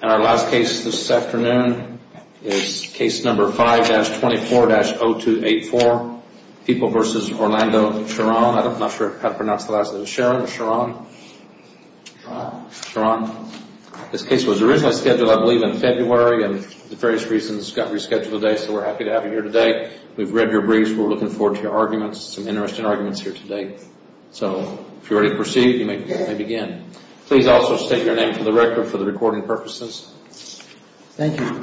And our last case this afternoon is case number 5-24-0284, People v. Orlando Sheron. I'm not sure how to pronounce the last name. Sheron? Sheron. Sheron. This case was originally scheduled, I believe, in February, and for various reasons got rescheduled today, so we're happy to have you here today. We've read your briefs. We're looking forward to your arguments, some interesting arguments here today. So, if you're ready to proceed, you may begin. Please also state your name for the record for the recording purposes. Thank you.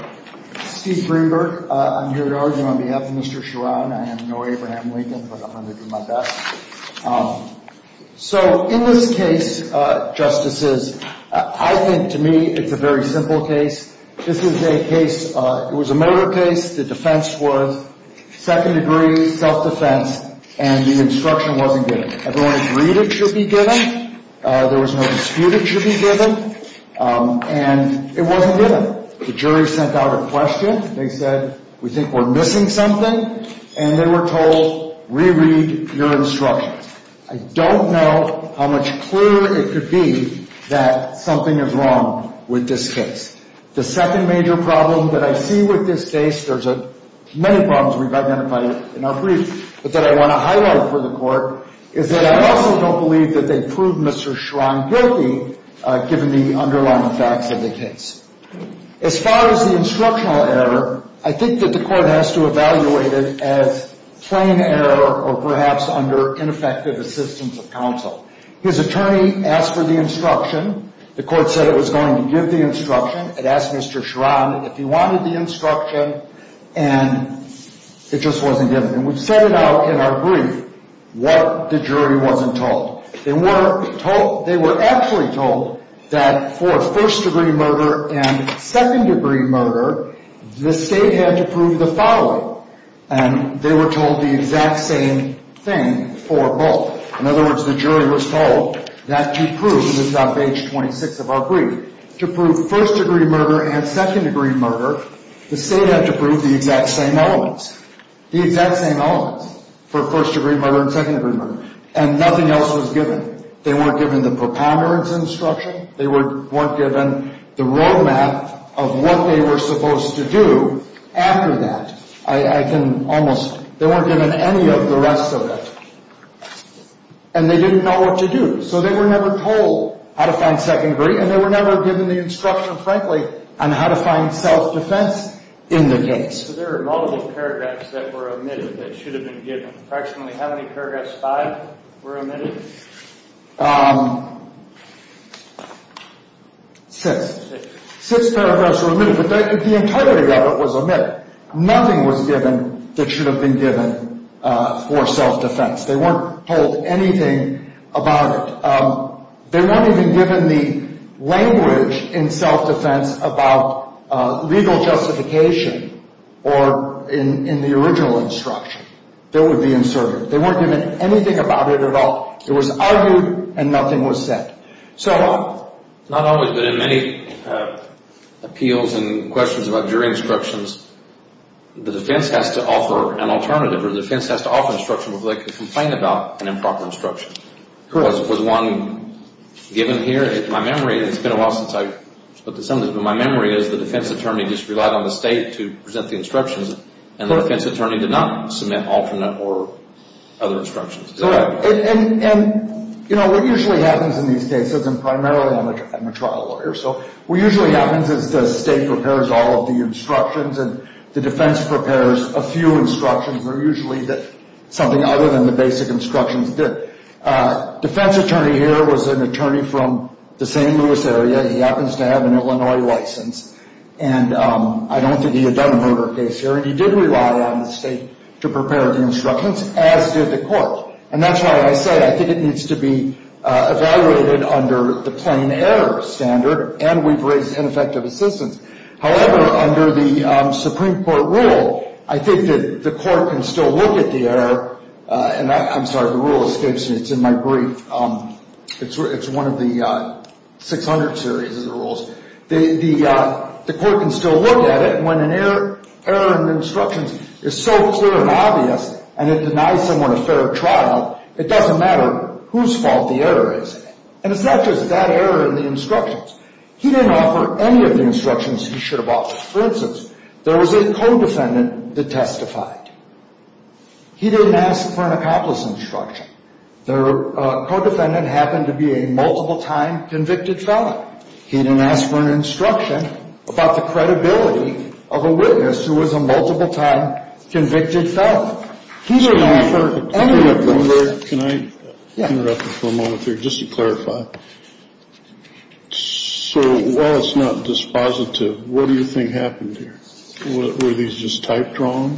Steve Greenberg. I'm here to argue on behalf of Mr. Sheron. I am no Abraham Lincoln, but I'm going to do my best. So, in this case, Justices, I think, to me, it's a very simple case. This is a case, it was a murder case, the defense was second-degree self-defense, and the instruction wasn't given. Everyone agreed it should be given, there was no dispute it should be given, and it wasn't given. The jury sent out a question, they said, we think we're missing something, and they were told, re-read your instructions. I don't know how much clearer it could be that something is wrong with this case. The second major problem that I see with this case, there's many problems we've identified in our briefs, but that I want to highlight for the Court, is that I also don't believe that they proved Mr. Sheron guilty, given the underlying facts of the case. As far as the instructional error, I think that the Court has to evaluate it as plain error, or perhaps under ineffective assistance of counsel. His attorney asked for the instruction, the Court said it was going to give the instruction, it asked Mr. Sheron if he wanted the instruction, and it just wasn't given. And we've said it out in our brief, what the jury wasn't told. They were told, they were actually told that for first-degree murder and second-degree murder, the State had to prove the following, and they were told the exact same thing for both. In other words, the jury was told that to prove, this is on page 26 of our brief, to prove first-degree murder and second-degree murder, the State had to prove the exact same elements. The exact same elements for first-degree murder and second-degree murder. And nothing else was given. They weren't given the preponderance instruction, they weren't given the road map of what they were supposed to do after that. I can almost, they weren't given any of the rest of it. And they didn't know what to do. So they were never told how to find second degree, and they were never given the instruction, frankly, on how to find self-defense in the case. So there are multiple paragraphs that were omitted that should have been given. Approximately how many paragraphs, five, were omitted? Six. Six paragraphs were omitted, but the entirety of it was omitted. Nothing was given that should have been given for self-defense. They weren't told anything about it. They weren't even given the language in self-defense about legal justification or in the original instruction that would be inserted. They weren't given anything about it at all. It was argued and nothing was said. Not always, but in many appeals and questions about jury instructions, the defense has to offer an alternative or the defense has to offer instruction where they can complain about an improper instruction. Was one given here? My memory, it's been a while since I spoke to some of this, but my memory is the defense attorney just relied on the state to present the instructions, and the defense attorney did not submit alternate or other instructions. Correct. And, you know, what usually happens in these cases, and primarily I'm a trial lawyer, so what usually happens is the state prepares all of the instructions and the defense prepares a few instructions, but usually something other than the basic instructions did. Defense attorney here was an attorney from the St. Louis area. He happens to have an Illinois license, and I don't think he had done a murder case here, and he did rely on the state to prepare the instructions, as did the court. And that's why I say I think it needs to be evaluated under the plain error standard, and we've raised ineffective assistance. However, under the Supreme Court rule, I think that the court can still look at the error, and I'm sorry, the rule escapes me. It's in my brief. It's one of the 600 series of the rules. The court can still look at it, and when an error in the instructions is so clear and obvious and it denies someone a fair trial, it doesn't matter whose fault the error is. And it's not just that error in the instructions. He didn't offer any of the instructions he should have offered. For instance, there was a co-defendant that testified. He didn't ask for an accomplice instruction. The co-defendant happened to be a multiple-time convicted felon. He didn't ask for an instruction about the credibility of a witness who was a multiple-time convicted felon. He didn't offer any of those. Can I interrupt you for a moment here just to clarify? So while it's not dispositive, what do you think happened here? Were these just type-drawn,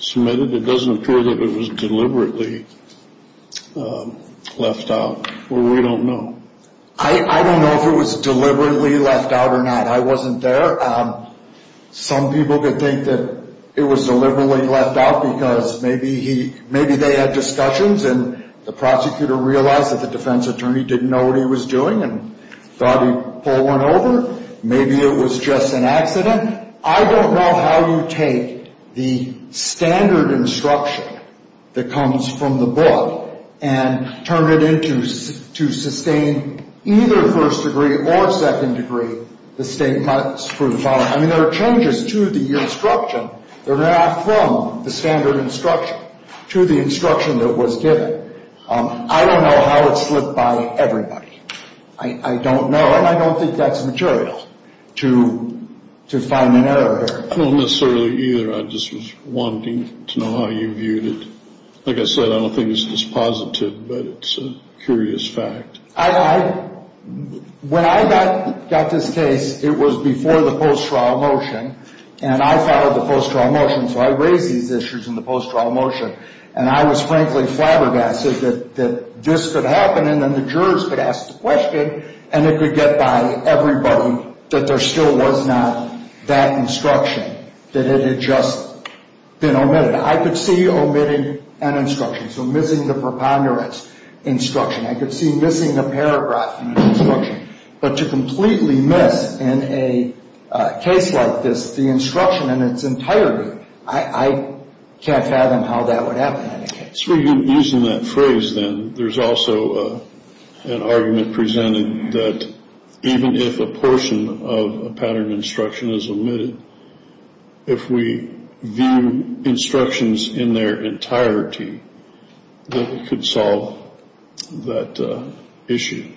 submitted? It doesn't appear that it was deliberately left out. We don't know. I don't know if it was deliberately left out or not. I wasn't there. Some people could think that it was deliberately left out because maybe they had discussions and the prosecutor realized that the defense attorney didn't know what he was doing and thought he'd pull one over. Maybe it was just an accident. I don't know how you take the standard instruction that comes from the book and turn it into, to sustain either first degree or second degree, the statement for the felon. I mean, there are changes to the instruction. They're going to act from the standard instruction to the instruction that was given. I don't know how it slipped by everybody. I don't know, and I don't think that's material to find an error here. I don't necessarily either. I just was wanting to know how you viewed it. Like I said, I don't think it's positive, but it's a curious fact. When I got this case, it was before the post-trial motion, and I followed the post-trial motion, so I raised these issues in the post-trial motion, and I was frankly flabbergasted that this could happen and then the jurors could ask the question and it could get by everybody that there still was not that instruction, that it had just been omitted. I could see omitting an instruction, so missing the preponderance instruction. I could see missing a paragraph in an instruction, but to completely miss in a case like this the instruction in its entirety, I can't fathom how that would happen in a case. So you're using that phrase then. There's also an argument presented that even if a portion of a pattern instruction is omitted, if we view instructions in their entirety, that it could solve that issue.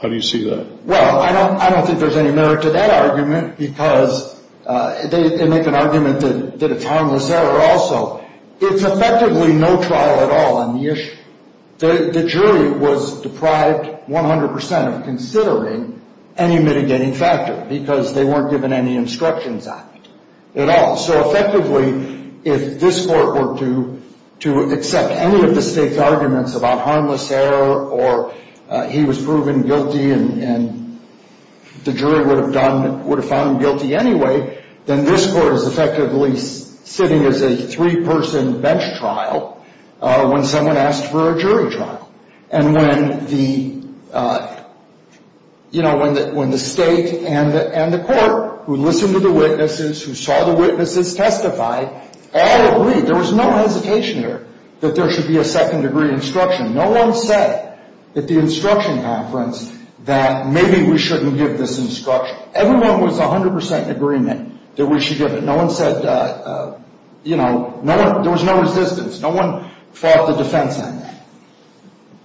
How do you see that? Well, I don't think there's any merit to that argument because they make an argument that it's harmless error also. It's effectively no trial at all on the issue. The jury was deprived 100% of considering any mitigating factor because they weren't given any instructions on it at all. So effectively, if this court were to accept any of the state's arguments about harmless error or he was proven guilty and the jury would have found him guilty anyway, then this court is effectively sitting as a three-person bench trial when someone asked for a jury trial. And when the state and the court who listened to the witnesses, who saw the witnesses testify, all agreed. There was no hesitation there that there should be a second-degree instruction. No one said at the instruction conference that maybe we shouldn't give this instruction. Everyone was 100% in agreement that we should give it. No one said, you know, there was no resistance. No one fought the defense on that.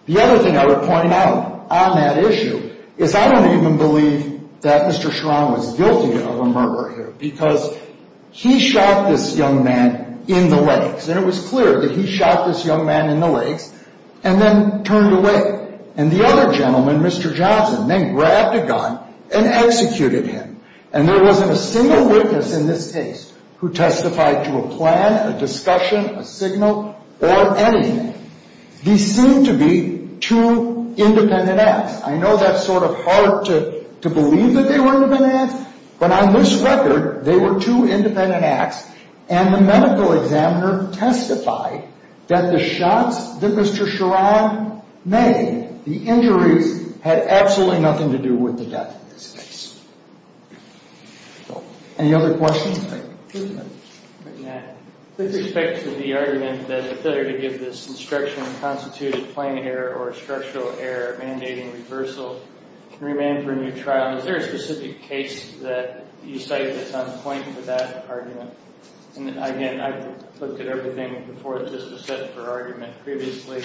The other thing I would point out on that issue is I don't even believe that Mr. Chiron was guilty of a murder here because he shot this young man in the legs. And it was clear that he shot this young man in the legs and then turned away. And the other gentleman, Mr. Johnson, then grabbed a gun and executed him. And there wasn't a single witness in this case who testified to a plan, a discussion, a signal, or anything. These seemed to be two independent acts. I know that's sort of hard to believe that they were independent acts, but on this record, they were two independent acts and the medical examiner testified that the shots that Mr. Chiron made, the injuries, had absolutely nothing to do with the death of this case. Any other questions? With respect to the argument that it's better to give this instruction and constitute a plan error or a structural error mandating reversal can remain for a new trial, is there a specific case that you cite that's on point for that argument? And again, I've looked at everything before this was set for argument previously.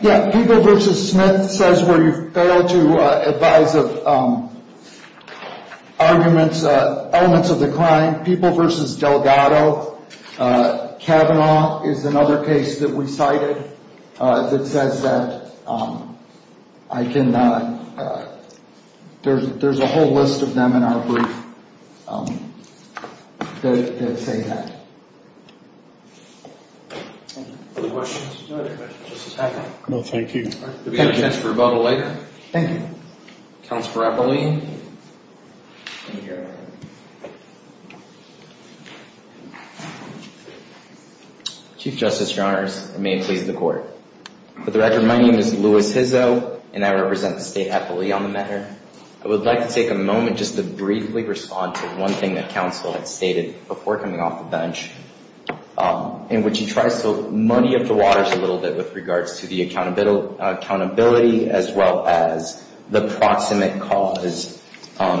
Yeah, People v. Smith says where you fail to advise of arguments, elements of the crime. People v. Delgado. Kavanaugh is another case that we cited that says that I cannot. There's a whole list of them in our brief that say that. Any other questions? No, thank you. Do we have a chance for a rebuttal later? Thank you. Counselor Apole? Chief Justice, Your Honors. May it please the Court. For the record, my name is Louis Hizzo, and I represent the state of Apole on the matter. I would like to take a moment just to briefly respond to one thing that counsel had stated before coming off the bench, in which he tries to muddy up the waters a little bit with regards to the accountability as well as the proximate cause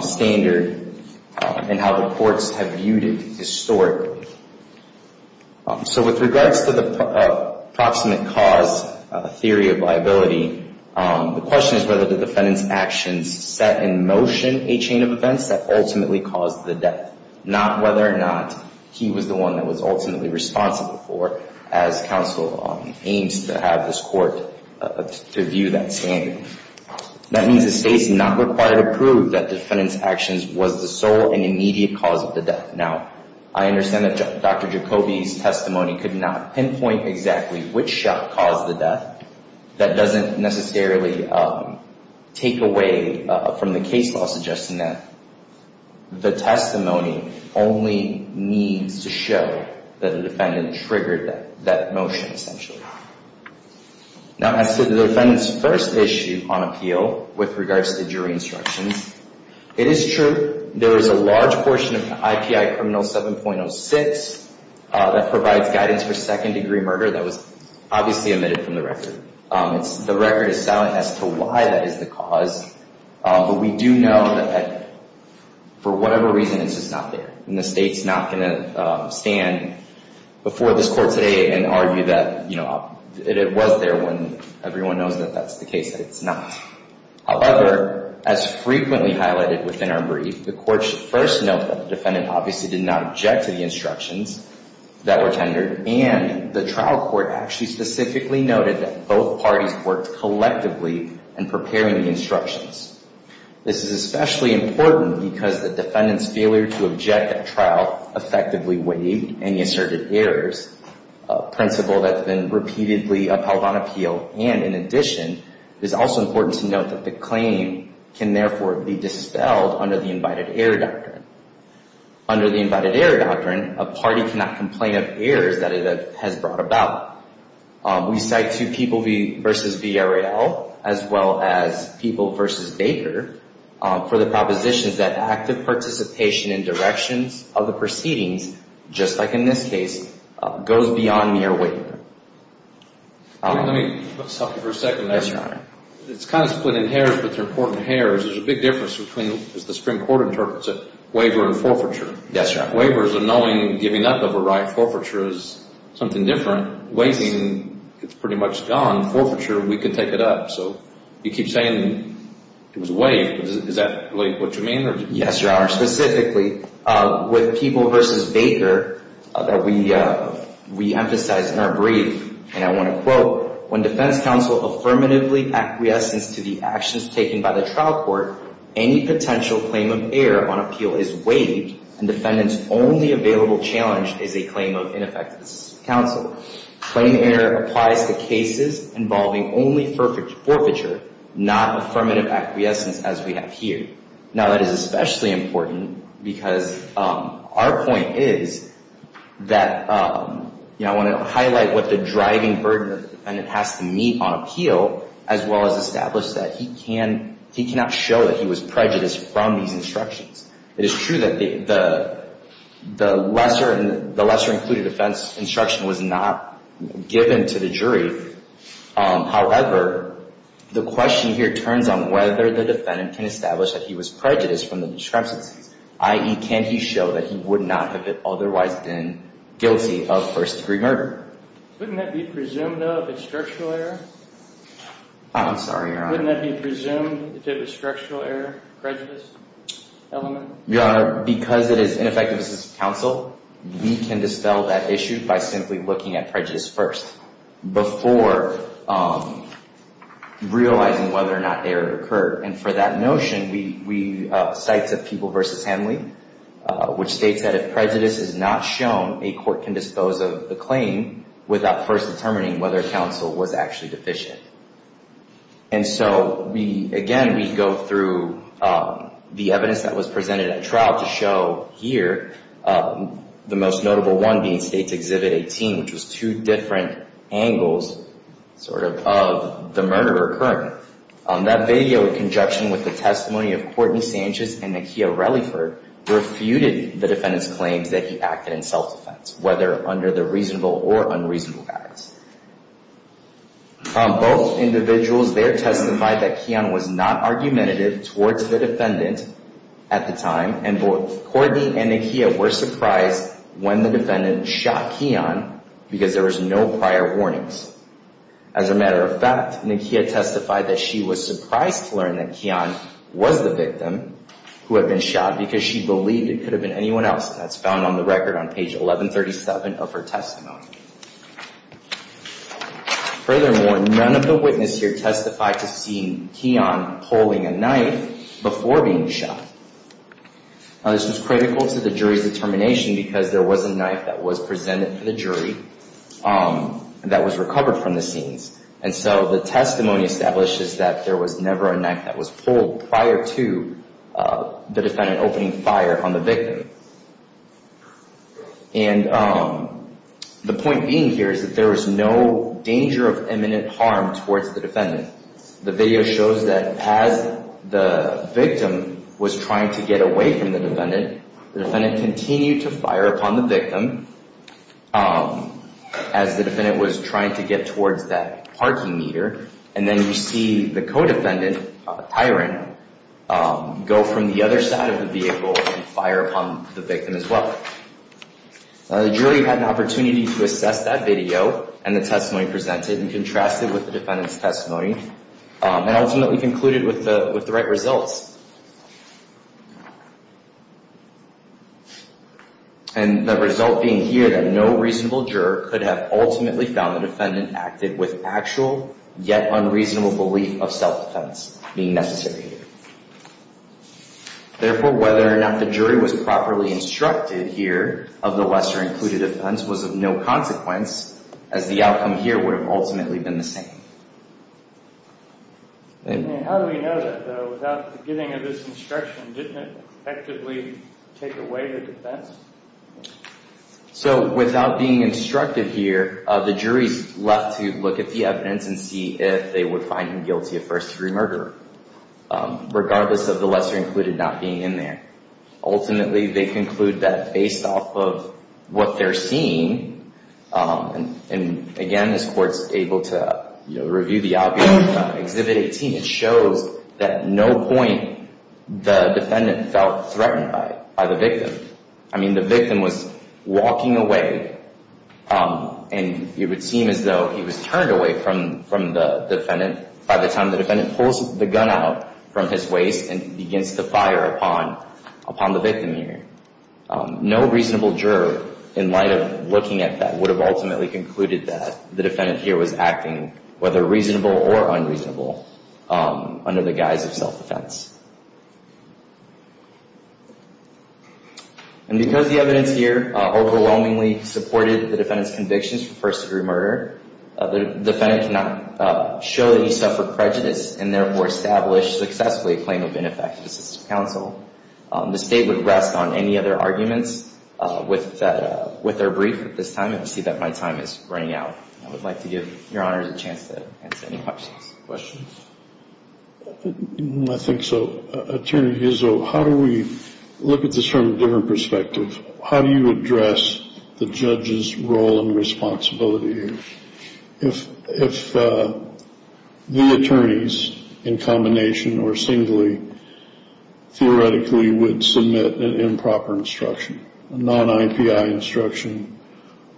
standard and how the courts have viewed it historically. So with regards to the proximate cause theory of liability, the question is whether the defendant's actions set in motion a chain of events that ultimately caused the death, not whether or not he was the one that was ultimately responsible for it, as counsel aims to have this Court to view that standard. That means the state is not required to prove that the defendant's actions was the sole and immediate cause of the death. Now, I understand that Dr. Jacoby's testimony could not pinpoint exactly which shot caused the death. That doesn't necessarily take away from the case law suggesting that the testimony only needs to show that the defendant triggered that motion, essentially. Now, as to the defendant's first issue on appeal with regards to jury instructions, it is true. There is a large portion of IPI Criminal 7.06 that provides guidance for second-degree murder that was obviously omitted from the record. The record is silent as to why that is the cause, but we do know that for whatever reason it's just not there, and the state's not going to stand before this Court today and argue that it was there when everyone knows that that's the case, that it's not. However, as frequently highlighted within our brief, the Court should first note that the defendant obviously did not object to the instructions that were tendered, and the trial court actually specifically noted that both parties worked collectively in preparing the instructions. This is especially important because the defendant's failure to object at trial effectively weighed any asserted errors, a principle that's been repeatedly upheld on appeal, and in addition, it is also important to note that the claim can therefore be dispelled under the invited error doctrine. Under the invited error doctrine, a party cannot complain of errors that it has brought about. We cite two people v. Villarreal, as well as people v. Baker, for the propositions that active participation in directions of the proceedings, just like in this case, goes beyond mere waiver. Let me stop you for a second. Yes, Your Honor. It's kind of split in hairs, but they're important hairs. There's a big difference between, as the Supreme Court interprets it, waiver and forfeiture. Yes, Your Honor. Waivers are knowing giving up of a right. Forfeiture is something different. Waiving, it's pretty much gone. Forfeiture, we can take it up. You keep saying it was waived. Is that really what you mean? Yes, Your Honor. Specifically, with people v. Baker that we emphasize in our brief, and I want to quote, when defense counsel affirmatively acquiesces to the actions taken by the trial court, any potential claim of error on appeal is waived, and defendant's only available challenge is a claim of ineffective counsel. Claiming error applies to cases involving only forfeiture, not affirmative acquiescence as we have here. Now, that is especially important because our point is that, I want to highlight what the driving burden the defendant has to meet on appeal, as well as establish that he cannot show that he was prejudiced from these instructions. It is true that the lesser-included offense instruction was not given to the jury. However, the question here turns on whether the defendant can establish that he was prejudiced from the discrepancies, i.e., can he show that he would not have otherwise been guilty of first-degree murder. Wouldn't that be presumed of as structural error? I'm sorry, Your Honor. Wouldn't that be presumed if it was structural error, prejudice element? Your Honor, because it is ineffective counsel, we can dispel that issue by simply looking at prejudice first, before realizing whether or not error occurred. For that notion, we cite People v. Hanley, which states that if prejudice is not shown, a court can dispose of the claim without first determining whether counsel was actually deficient. Again, we go through the evidence that was presented at trial to show here, the most notable one being States Exhibit 18, which was two different angles of the murder occurring. That video, in conjunction with the testimony of Courtney Sanchez and Nakia Reliford, refuted the defendant's claims that he acted in self-defense, whether under the reasonable or unreasonable guidance. Both individuals there testified that Keon was not argumentative towards the defendant at the time, and both Courtney and Nakia were surprised when the defendant shot Keon, because there was no prior warnings. As a matter of fact, Nakia testified that she was surprised to learn that Keon was the victim who had been shot, because she believed it could have been anyone else. That's found on the record on page 1137 of her testimony. Furthermore, none of the witnesses here testified to seeing Keon holding a knife before being shot. This was critical to the jury's determination, because there was a knife that was presented to the jury that was recovered from the scenes. And so the testimony establishes that there was never a knife that was pulled prior to the defendant opening fire on the victim. And the point being here is that there was no danger of imminent harm towards the defendant. The video shows that as the victim was trying to get away from the defendant, the defendant continued to fire upon the victim as the defendant was trying to get towards that parking meter. And then you see the co-defendant, Tyrant, go from the other side of the vehicle and fire upon the victim as well. The jury had an opportunity to assess that video and the testimony presented and contrasted with the defendant's testimony and ultimately concluded with the right results. And the result being here that no reasonable juror could have ultimately found the defendant active with actual yet unreasonable belief of self-defense being necessary. Therefore, whether or not the jury was properly instructed here of the lesser included offense was of no consequence, as the outcome here would have ultimately been the same. How do we know that, though? Without the beginning of this instruction, didn't it effectively take away the defense? So without being instructed here, the jury's left to look at the evidence and see if they would find him guilty of first-degree murder, regardless of the lesser included not being in there. Ultimately, they conclude that based off of what they're seeing, and again, this court's able to review the obvious from Exhibit 18, it shows that at no point the defendant felt threatened by the victim. I mean, the victim was walking away, and it would seem as though he was turned away from the defendant by the time the defendant pulls the gun out from his waist and begins to fire upon the victim here. No reasonable juror, in light of looking at that, would have ultimately concluded that the defendant here was acting, whether reasonable or unreasonable, under the guise of self-defense. And because the evidence here overwhelmingly supported the defendant's convictions for first-degree murder, the defendant cannot show that he suffered prejudice and therefore establish successfully a claim of ineffective assistance to counsel. The State would rest on any other arguments with their brief at this time, and I see that my time is running out. I would like to give Your Honors a chance to answer any questions. I think so. Attorney Izzo, how do we look at this from a different perspective? How do you address the judge's role and responsibility here? If the attorneys, in combination or singly, theoretically would submit an improper instruction, a non-IPI instruction,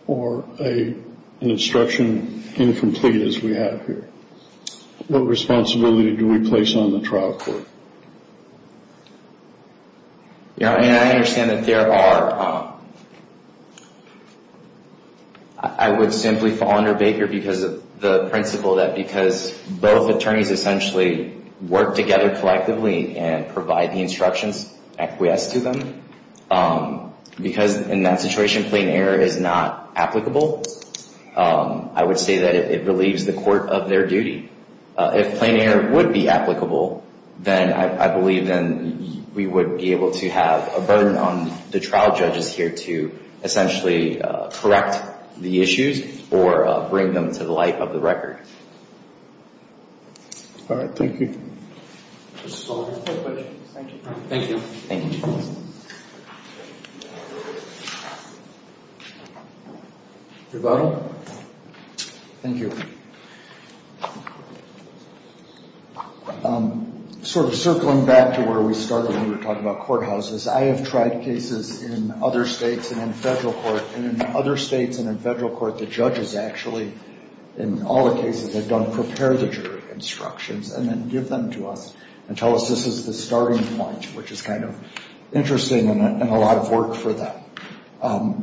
or an instruction incomplete as we have here, what responsibility do we place on the trial court? You know, I mean, I understand that there are – I would simply fall under Baker because of the principle that because both attorneys essentially work together collectively and provide the instructions acquiesced to them, because in that situation plain error is not applicable, I would say that it relieves the court of their duty. If plain error would be applicable, then I believe then we would be able to have a burden on the trial judges here to essentially correct the issues or bring them to the light of the record. All right. Thank you. Thank you. Thank you. Rebuttal? Thank you. Sort of circling back to where we started when we were talking about courthouses, I have tried cases in other states and in federal court. And in other states and in federal court, the judges actually, in all the cases they've done, prepare the jury instructions and then give them to us and tell us this is the starting point, which is kind of interesting and a lot of work for them.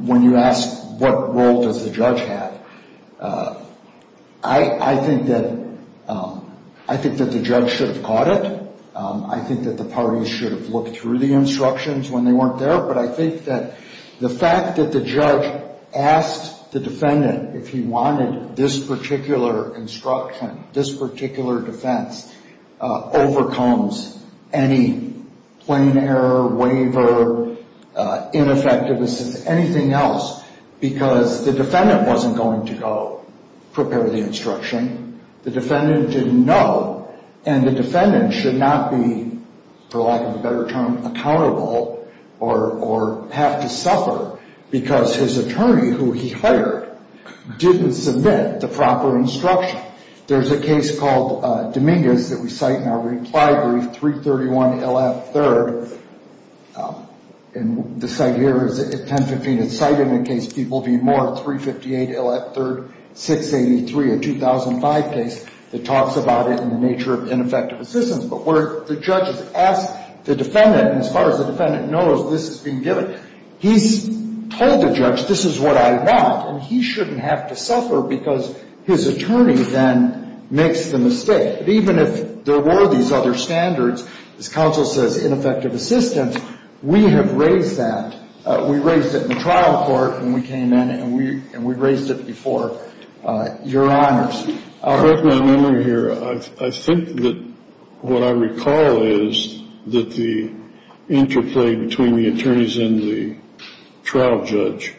When you ask what role does the judge have, I think that the judge should have caught it. I think that the parties should have looked through the instructions when they weren't there. But I think that the fact that the judge asked the defendant if he wanted this particular instruction, this particular defense, overcomes any plain error, waiver, ineffectiveness, anything else, because the defendant wasn't going to go prepare the instruction. The defendant didn't know, and the defendant should not be, for lack of a better term, accountable or have to suffer because his attorney, who he hired, didn't submit the proper instruction. There's a case called Dominguez that we cite in our reply brief, 331 L.F. 3rd. And the cite here is 1015. It's cited in the case people v. Moore, 358 L.F. 3rd, 683, a 2005 case that talks about it and the nature of ineffective assistance. But where the judge has asked the defendant, and as far as the defendant knows, this has been given, he's told the judge, this is what I want, and he shouldn't have to suffer because his attorney then makes the mistake. But even if there were these other standards, as counsel says, ineffective assistance, we have raised that. We raised it in the trial court when we came in, and we raised it before Your Honors. I'll break my memory here. I think that what I recall is that the interplay between the attorneys and the trial judge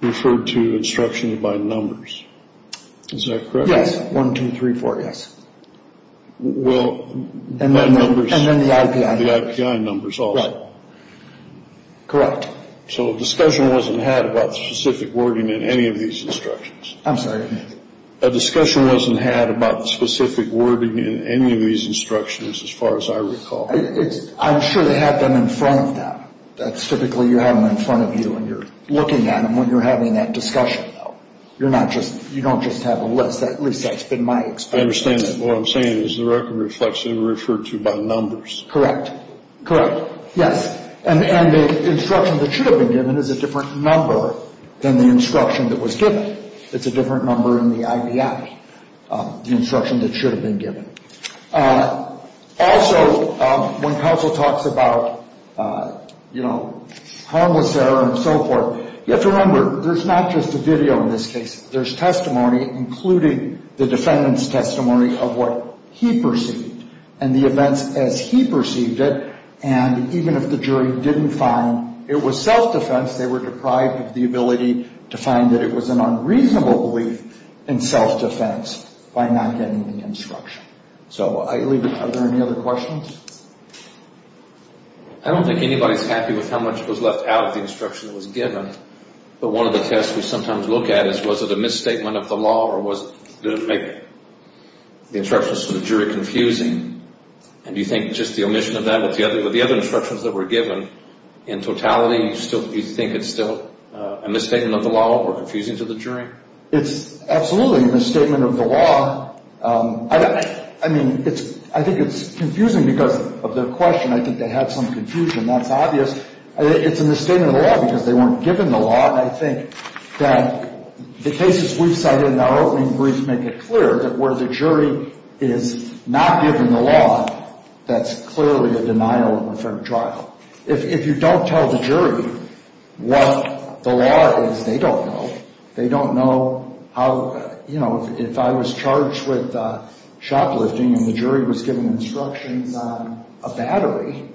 referred to instructions by numbers. Is that correct? Yes. One, two, three, four, yes. Well, by numbers. And then the IPI. The IPI numbers also. Right. Correct. So a discussion wasn't had about the specific wording in any of these instructions. I'm sorry? A discussion wasn't had about the specific wording in any of these instructions, as far as I recall. I'm sure they have them in front of them. That's typically you have them in front of you, and you're looking at them when you're having that discussion, though. You don't just have a list. At least that's been my experience. I understand that. What I'm saying is the record reflects that it was referred to by numbers. Correct. Correct. Yes. And the instruction that should have been given is a different number than the instruction that was given. It's a different number in the IPI, the instruction that should have been given. Also, when counsel talks about, you know, harmless error and so forth, you have to remember there's not just a video in this case. There's testimony, including the defendant's testimony of what he perceived and the events as he perceived it. And even if the jury didn't find it was self-defense, they were deprived of the ability to find that it was an unreasonable belief in self-defense by not getting the instruction. So are there any other questions? I don't think anybody's happy with how much was left out of the instruction that was given. But one of the tests we sometimes look at is was it a misstatement of the law or was it to make the instructions to the jury confusing. And do you think just the omission of that with the other instructions that were given, in totality, you think it's still a misstatement of the law or confusing to the jury? It's absolutely a misstatement of the law. I mean, I think it's confusing because of the question. I think they had some confusion. That's obvious. It's a misstatement of the law because they weren't given the law, and I think that the cases we've cited in our opening briefs make it clear that where the jury is not given the law, that's clearly a denial of a fair trial. If you don't tell the jury what the law is, they don't know. They don't know how, you know, if I was charged with shoplifting and the jury was given instructions on a battery,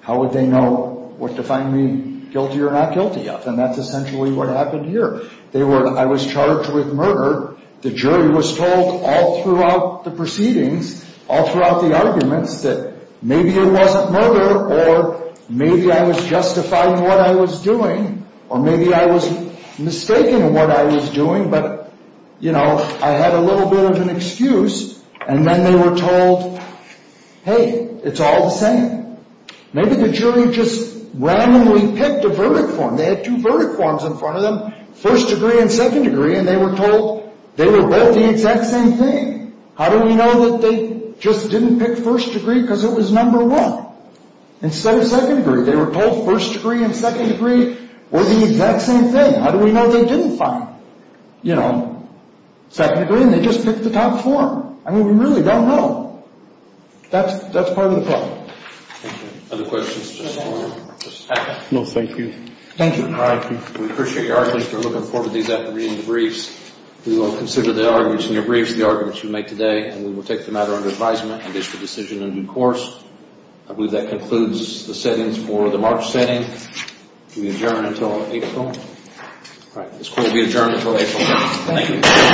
how would they know what to find me guilty or not guilty of? And that's essentially what happened here. I was charged with murder. The jury was told all throughout the proceedings, all throughout the arguments, that maybe it wasn't murder or maybe I was justifying what I was doing or maybe I was mistaking what I was doing, but, you know, I had a little bit of an excuse, and then they were told, hey, it's all the same. Maybe the jury just randomly picked a verdict form. They had two verdict forms in front of them, first degree and second degree, and they were told they were both the exact same thing. How do we know that they just didn't pick first degree because it was number one instead of second degree? They were told first degree and second degree were the exact same thing. How do we know they didn't find, you know, second degree, and they just picked the top form? I mean, we really don't know. That's part of the problem. Thank you. Other questions? No, thank you. Thank you. All right. We appreciate your honesty. We're looking forward to these after reading the briefs. We will consider the arguments in your briefs, the arguments you make today, and we will take the matter under advisement and issue a decision in due course. I believe that concludes the settings for the March setting. We adjourn until April. All right. This court will be adjourned until April. Thank you.